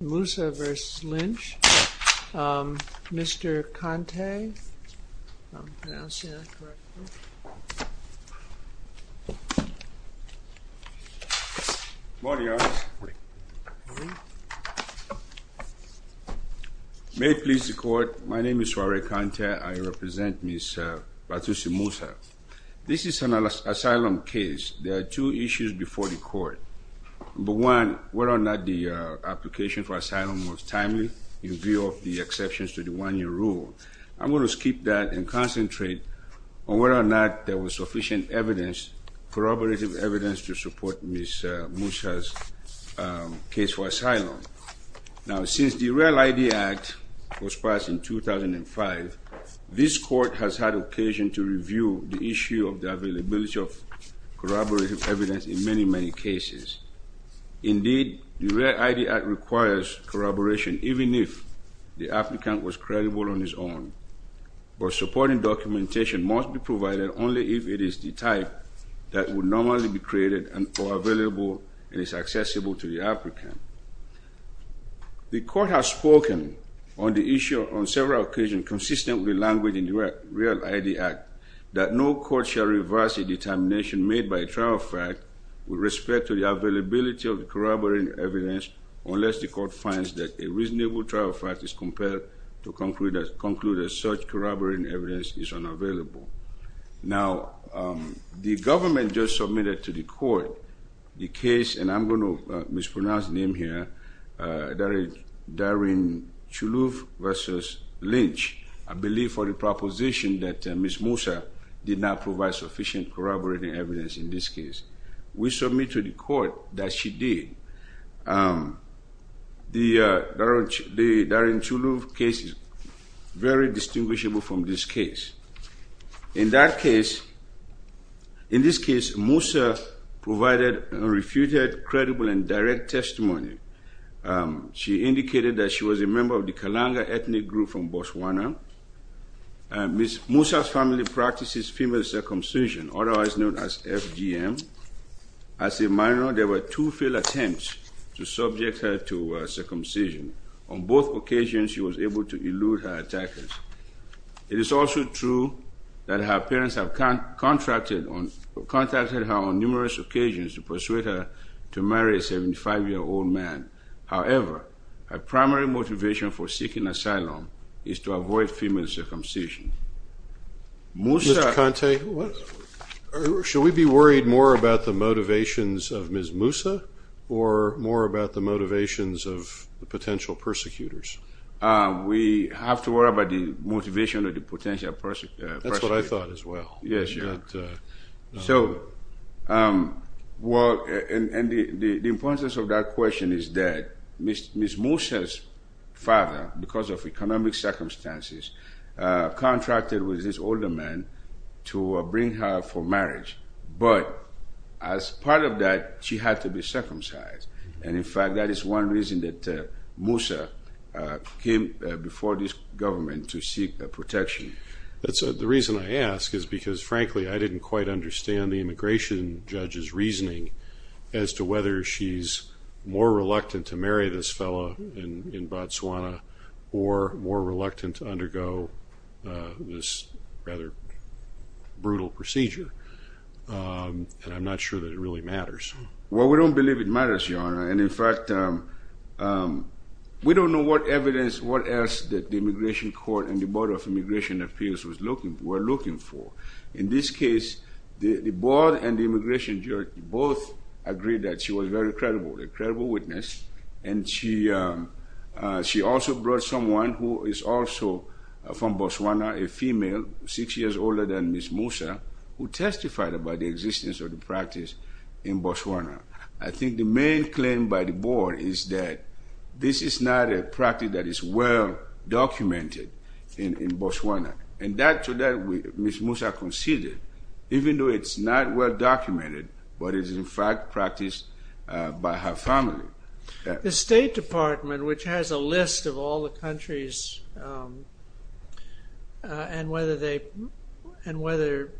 Musa v. Lynch. Mr. Kante. May it please the court, my name is Soare Kante. I represent Ms. Batusi Musa. This is an asylum case. There are two issues before the court. Number one, whether or not the application for asylum was timely in view of the exceptions to the one-year rule. I'm going to skip that and concentrate on whether or not there was sufficient evidence, corroborative evidence, to support Ms. Musa's case for asylum. Now since the Real ID Act was passed in 2005, this court has had occasion to review the issue of the availability of documentation. Indeed, the Real ID Act requires corroboration even if the applicant was credible on his own, but supporting documentation must be provided only if it is the type that would normally be created and or available and is accessible to the applicant. The court has spoken on the issue on several occasions consistent with the language in the Real ID Act that no court shall reverse a determination made by a trial fact with respect to the availability of corroborating evidence unless the court finds that a reasonable trial fact is compared to conclude that such corroborating evidence is unavailable. Now, the government just submitted to the court the case, and I'm going to mispronounce the name here, Darin Chuluf versus Lynch, I believe for the proposition that Ms. Musa did not provide sufficient corroborating evidence in this case. We submit to the court that she did. The Darin Chuluf case is very distinguishable from this case. In that case, in this case, Musa provided refuted, credible, and direct testimony. She indicated that she was a member of the Kalanga ethnic group from circumcision, otherwise known as FGM. As a minor, there were two failed attempts to subject her to circumcision. On both occasions, she was able to elude her attackers. It is also true that her parents have contracted her on numerous occasions to persuade her to marry a 75-year-old man. However, her primary motivation for seeking asylum is to avoid female circumcision. Mr. Kante, should we be worried more about the motivations of Ms. Musa, or more about the motivations of the potential persecutors? We have to worry about the motivation of the potential persecutors. That's what I thought as well. Yes. So, well, and the importance of that question is that Ms. Musa's father, because of economic circumstances, contracted with this older man to bring her for marriage. But, as part of that, she had to be circumcised. And, in fact, that is one reason that Musa came before this government to seek protection. That's the reason I ask, is because, frankly, I didn't quite understand the immigration judge's reasoning as to whether she's more reluctant to marry this fellow in to undergo this rather brutal procedure. And, I'm not sure that it really matters. Well, we don't believe it matters, Your Honor. And, in fact, we don't know what evidence, what else, that the Immigration Court and the Board of Immigration Appeals were looking for. In this case, the board and the immigration judge both agreed that she was very credible, a credible witness. And, she also brought someone who is also from Botswana, a female, six years older than Ms. Musa, who testified about the existence of the practice in Botswana. I think the main claim by the board is that this is not a practice that is well-documented in Botswana. And that, to that, Ms. Musa conceded, even though it's not well-documented, but it is, in fact, practiced by her family. The State Department, which has a list of all the countries, and whether they, and whether,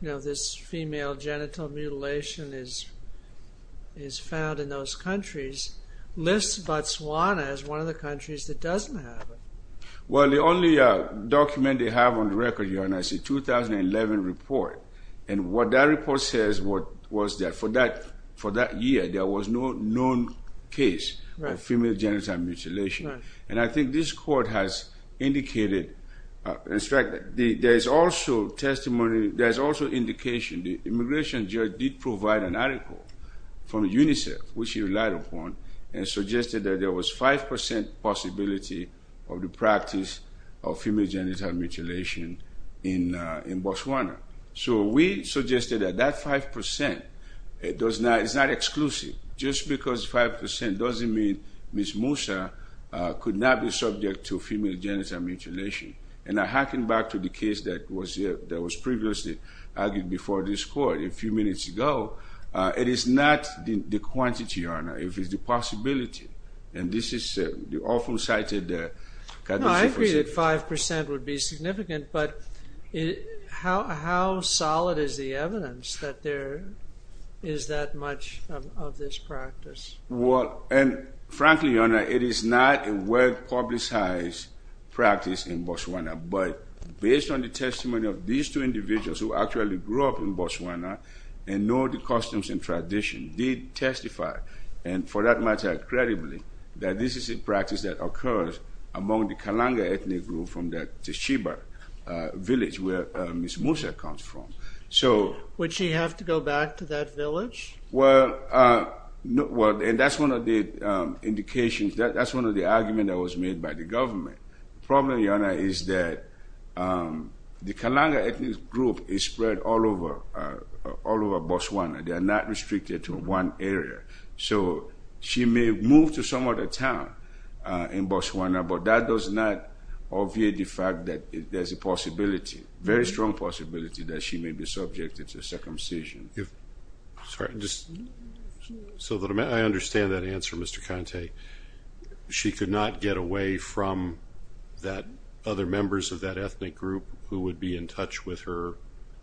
you know, this female genital mutilation is found in those countries, lists Botswana as one of the countries that doesn't have it. Well, the only document they have on the record, Your Honor, is a 2011 report. And, what that report says, what female genital mutilation. And, I think this court has indicated, instructed, there is also testimony, there's also indication, the immigration judge did provide an article from UNICEF, which he relied upon, and suggested that there was five percent possibility of the practice of female genital mutilation in Botswana. So, we suggested that that five percent, it does not, it's not exclusive. Just because five percent doesn't mean Ms. Musa could not be subject to female genital mutilation. And, I harken back to the case that was there, that was previously argued before this court a few minutes ago, it is not the quantity, Your Honor, if it's the possibility. And, this is the often-cited. No, I agree that five percent would be significant, but how solid is the evidence that there is that much of this practice? Well, and frankly, Your Honor, it is not a well-publicized practice in Botswana. But, based on the testimony of these two individuals who actually grew up in Botswana, and know the customs and tradition, did testify, and for that matter, credibly, that this is a practice that occurs among the Kalanga ethnic group from the Tshiba village where Ms. Musa comes from. So, would she have to go back to that village? Well, and that's one of the indications, that's one of the arguments that was made by the government. The problem, Your Honor, is that the Kalanga ethnic group is spread all over Botswana. They are not restricted to one area. So, she may move to some other town in Botswana, but that does not obviate the fact that there's a possibility, very strong possibility, that she may be subjected to circumcision. Sorry, just so that I understand that answer, Mr. Kante, she could not get away from that other members of that ethnic group who would be in touch with her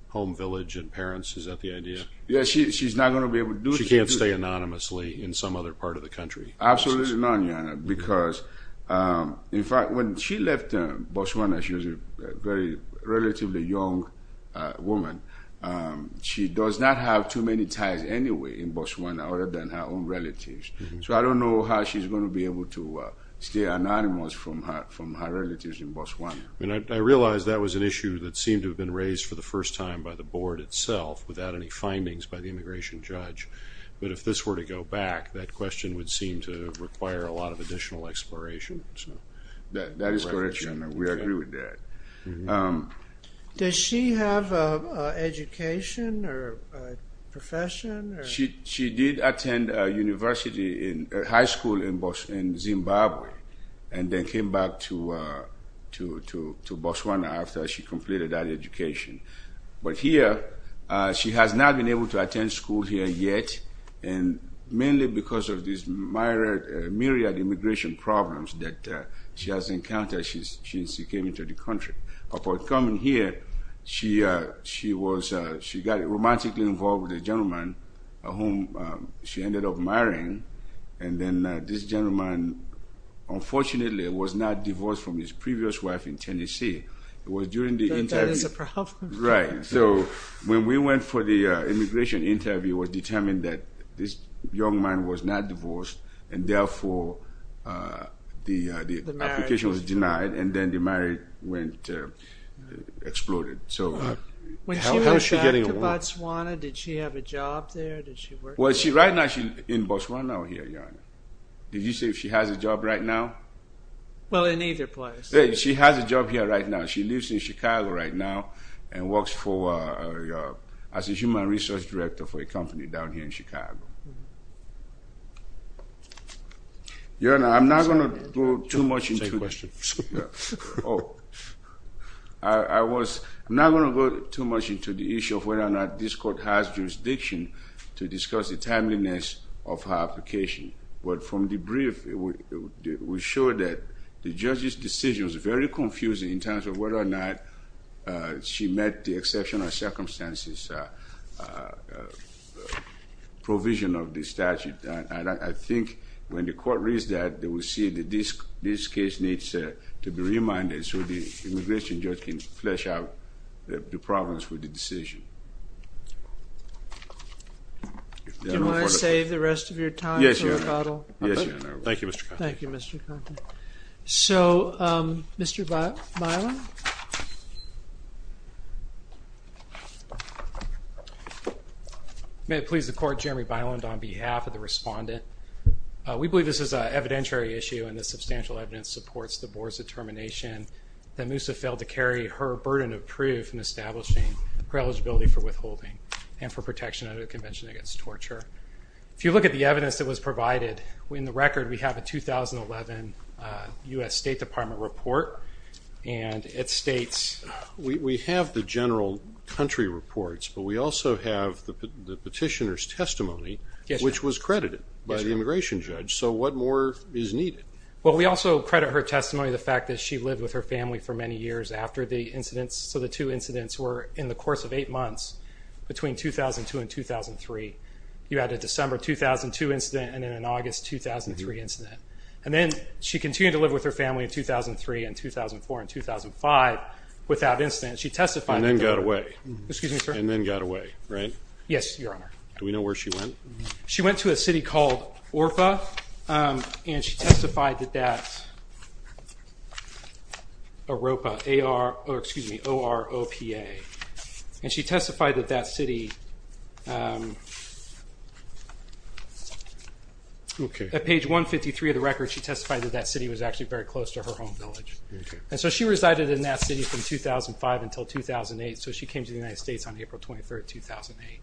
home village and parents? Is that the idea? Yes, she's not going to be able to do that. She can't stay anonymously in some other part of the country? Absolutely not, Your Honor, because, in fact, when she left Botswana, she was a very relatively young woman. She does not have too many ties, anyway, in Botswana other than her own relatives. So, I don't know how she's going to be able to stay anonymous from her relatives in Botswana. I mean, I realized that was an issue that seemed to have been raised for the first time by the board itself without any findings by the immigration judge, but if this were to go back, that question would seem to require a lot of additional exploration. That is correct, Your Honor, we agree with that. Does she have an education or profession? She did attend a university, a high school in Zimbabwe, and then came back to Botswana after she completed that education, but here she has not been able to attend school here yet, and mainly because of this myriad immigration problems that she has encountered since she came into the country. Upon coming here, she got romantically involved with a gentleman whom she ended up marrying, and then this gentleman, unfortunately, was not divorced from his previous wife in Tennessee. It was during the interview. That is a problem. Right, so when we went for the immigration interview, it was the application was denied, and then the marriage went, exploded. When she went back to Botswana, did she have a job there? Did she work there? Well, right now she's in Botswana, Your Honor. Did you say she has a job right now? Well, in either place. She has a job here right now. She lives in Chicago right now and works for, as a human resource director for a company down here in I'm not going to go too much into the issue of whether or not this court has jurisdiction to discuss the timeliness of her application, but from the brief, we showed that the judge's decision was very confusing in terms of whether or not she met the exceptional circumstances provision of the statute. I think when the court reads that, they will see that this case needs to be reminded so the immigration judge can flesh out the problems with the decision. Do you want to save the rest of your time for rebuttal? Yes, Your Honor. Thank you, Mr. Conte. So, Mr. Byland? May it please the court, Jeremy Byland on behalf of the respondent. We believe this is an evidentiary issue and the substantial evidence supports the board's determination that Moosa failed to carry her burden of proof in establishing her eligibility for withholding and for protection under the Convention Against Torture. If you look at the evidence that was provided, in the record we have a 2011 U.S. State Department report and it states... We have the general country reports, but we also have the petitioner's testimony, which was credited by the immigration judge. So what more is needed? Well, we also credit her testimony, the fact that she lived with her family for many years after the incidents. So the two incidents were in the course of August 2003 incident. And then she continued to live with her family in 2003 and 2004 and 2005 without incident. She testified... And then got away. Excuse me, sir? And then got away, right? Yes, Your Honor. Do we know where she went? She went to a city called Orpha and she testified that that... At page 153 of the record, she testified that that city was actually very close to her home village. And so she resided in that city from 2005 until 2008, so she came to the United States on April 23rd, 2008.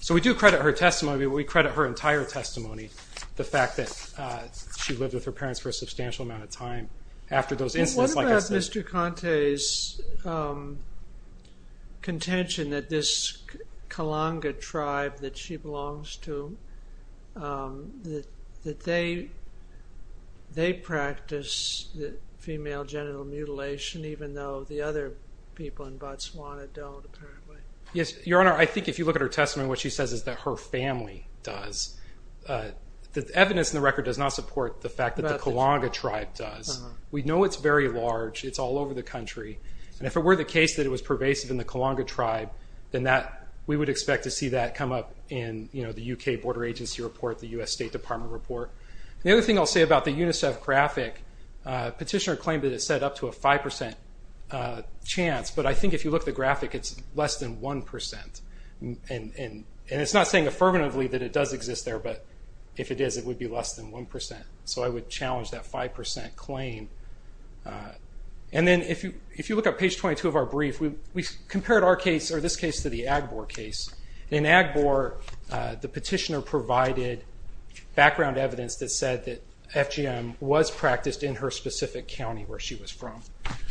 So we do credit her testimony, but we credit her entire testimony, the fact that she lived with her parents for a substantial amount of time after those incidents. What about Mr. Conte's contention that this Kalanga tribe that she belongs to, that they practice female genital mutilation, even though the other people in Botswana don't, apparently? Yes, Your Honor. I think if you look at her testimony, what she says is that her family does. The evidence in the record does not support the fact that the Kalanga tribe does. We know it's very large. It's all over the country. And if it were the case that it was pervasive in the Kalanga tribe, then we would expect to see that come up in the UK Border Agency report, the US State Department report. The other thing I'll say about the UNICEF graphic, petitioner claimed that it's set up to a 5% chance, but I think if you look at the graphic, it's less than 1%. And it's not saying affirmatively that it does exist there, but if it is, it would be less than 1%. So I would challenge that 5% claim. And then if you look at page 22 of our case, or this case to the Agbor case, in Agbor, the petitioner provided background evidence that said that FGM was practiced in her specific county where she was from.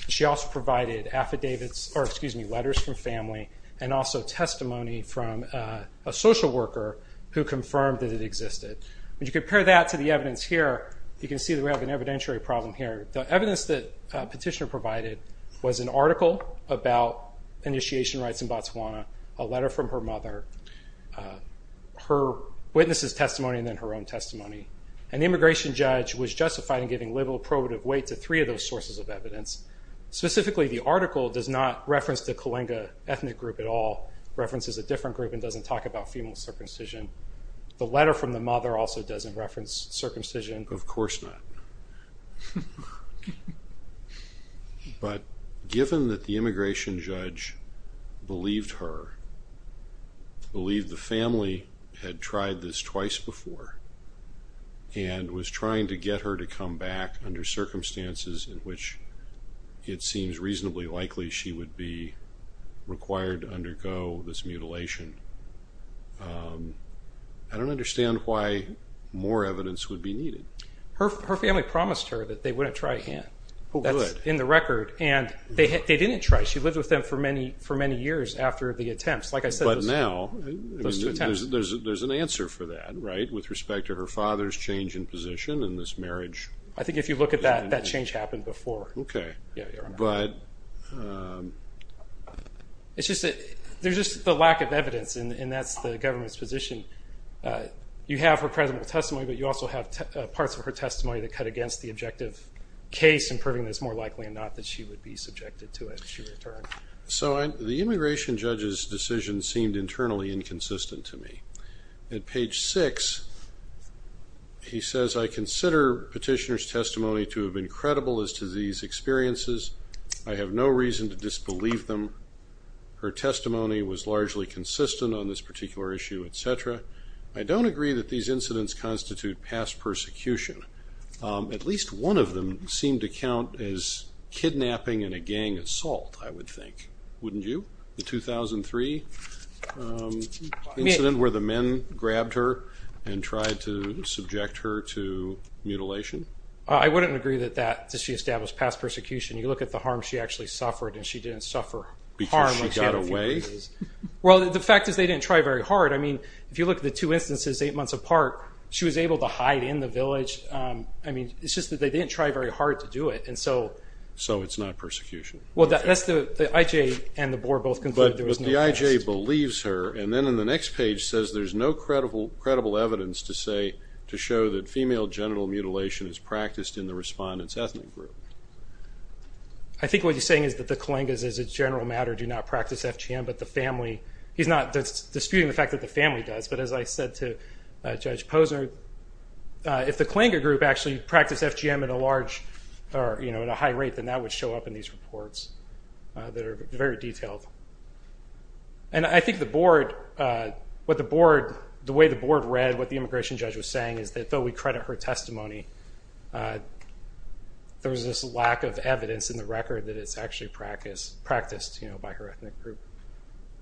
She also provided affidavits, or excuse me, letters from family, and also testimony from a social worker who confirmed that it existed. When you compare that to the evidence here, you can see that we have an evidentiary problem here. The evidence that petitioner provided was an article about initiation rights in Botswana, a letter from her mother, her witness's testimony, and then her own testimony. An immigration judge was justified in giving liberal probative weight to three of those sources of evidence. Specifically, the article does not reference the Kalinga ethnic group at all, references a different group, and doesn't talk about female circumcision. The letter from the mother also doesn't reference circumcision. Of course not. But given that the immigration judge believed her, believed the family had tried this twice before, and was trying to get her to come back under circumstances in which it seems reasonably likely she would be required to undergo this mutilation, I don't understand why more evidence would be needed. She only promised her that they wouldn't try again. That's in the record, and they didn't try. She lived with them for many years after the attempts. But now, there's an answer for that, right? With respect to her father's change in position and this marriage. I think if you look at that, that change happened before. Okay. But it's just that there's just the lack of evidence, and that's the government's position. You have her presentable testimony that cut against the objective case in proving that it's more likely or not that she would be subjected to it if she returned. So the immigration judge's decision seemed internally inconsistent to me. At page 6, he says, I consider petitioner's testimony to have been credible as to these experiences. I have no reason to disbelieve them. Her testimony was largely consistent on this particular issue, etc. I don't agree that these incidents constitute past persecution. At least one of them seemed to count as kidnapping and a gang assault, I would think. Wouldn't you? The 2003 incident where the men grabbed her and tried to subject her to mutilation. I wouldn't agree that that established past persecution. You look at the harm she actually suffered, and she didn't suffer harm. Because she got away? Well, the fact is they didn't try very hard. I mean, if you look at the two instances, eight months apart, she was able to hide in the village. I mean, it's just that they didn't try very hard to do it. So it's not persecution? Well, the IJ and the board both concluded there was no past. But the IJ believes her, and then in the next page says there's no credible evidence to show that female genital mutilation is practiced in the respondent's ethnic group. I think what he's saying is that the Kalingas, as a general matter, do not practice FGM, but the family... He's not disputing the fact that the family does, but as I said to Judge Posner, if the Kalinga group actually practiced FGM at a large, or at a high rate, then that would show up in these reports that are very detailed. And I think the board, the way the board read what the immigration judge was saying is that though we credit her testimony, there's this lack of evidence in the record that it's actually practiced by her ethnic group.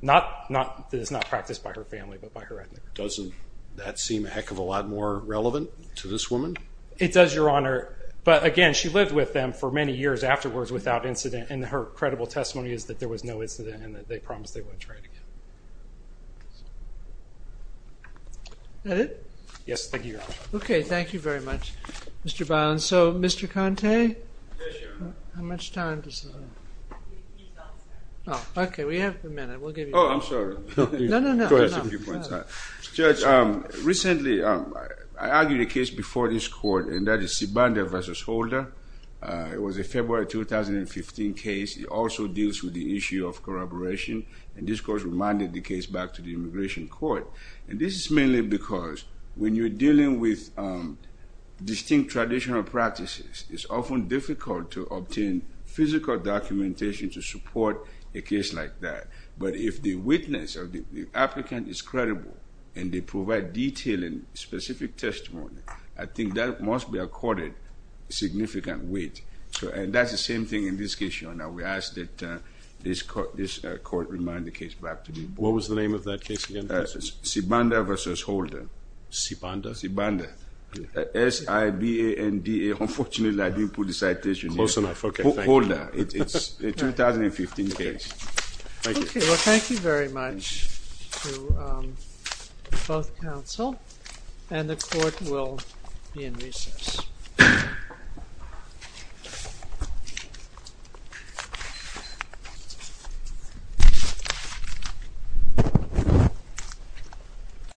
Not that it's not practiced by her family, but by her ethnic group. Doesn't that seem a heck of a lot more relevant to this woman? It does, Your Honor. But again, she lived with them for many years afterwards without incident, and her credible testimony is that there was no incident, and that they promised they wouldn't try it again. Is that it? Yes, thank you, Your Honor. Okay, thank you very much, Mr. Bynum. So, Mr. Conte? Yes, Your Honor. How much time does... Okay, we have a minute. We'll give you a minute. Oh, I'm sorry. No, no, no. Go ahead. Judge, recently, I argued a case before this court, and that is Sibanda v. Holder. It was a February 2015 case. It also deals with the issue of corroboration, and this court remanded the case back to the immigration court. And this is mainly because when you're dealing with distinct traditional practices, it's often difficult to obtain physical documentation to support a case like that. But if the witness or the applicant is credible, and they provide detailed and specific testimony, I think that must be accorded significant weight. And that's the same thing in this case, Your Honor. We ask that this court remand the case back to the... What was the name of that case again, please? Sibanda v. Holder. Sibanda? Sibanda. S-I-B-A-N-D-A. Unfortunately, I didn't put the citation in. Close enough. Okay, thank you. Thank you. Okay, well thank you very much to both counsel, and the court will be in recess.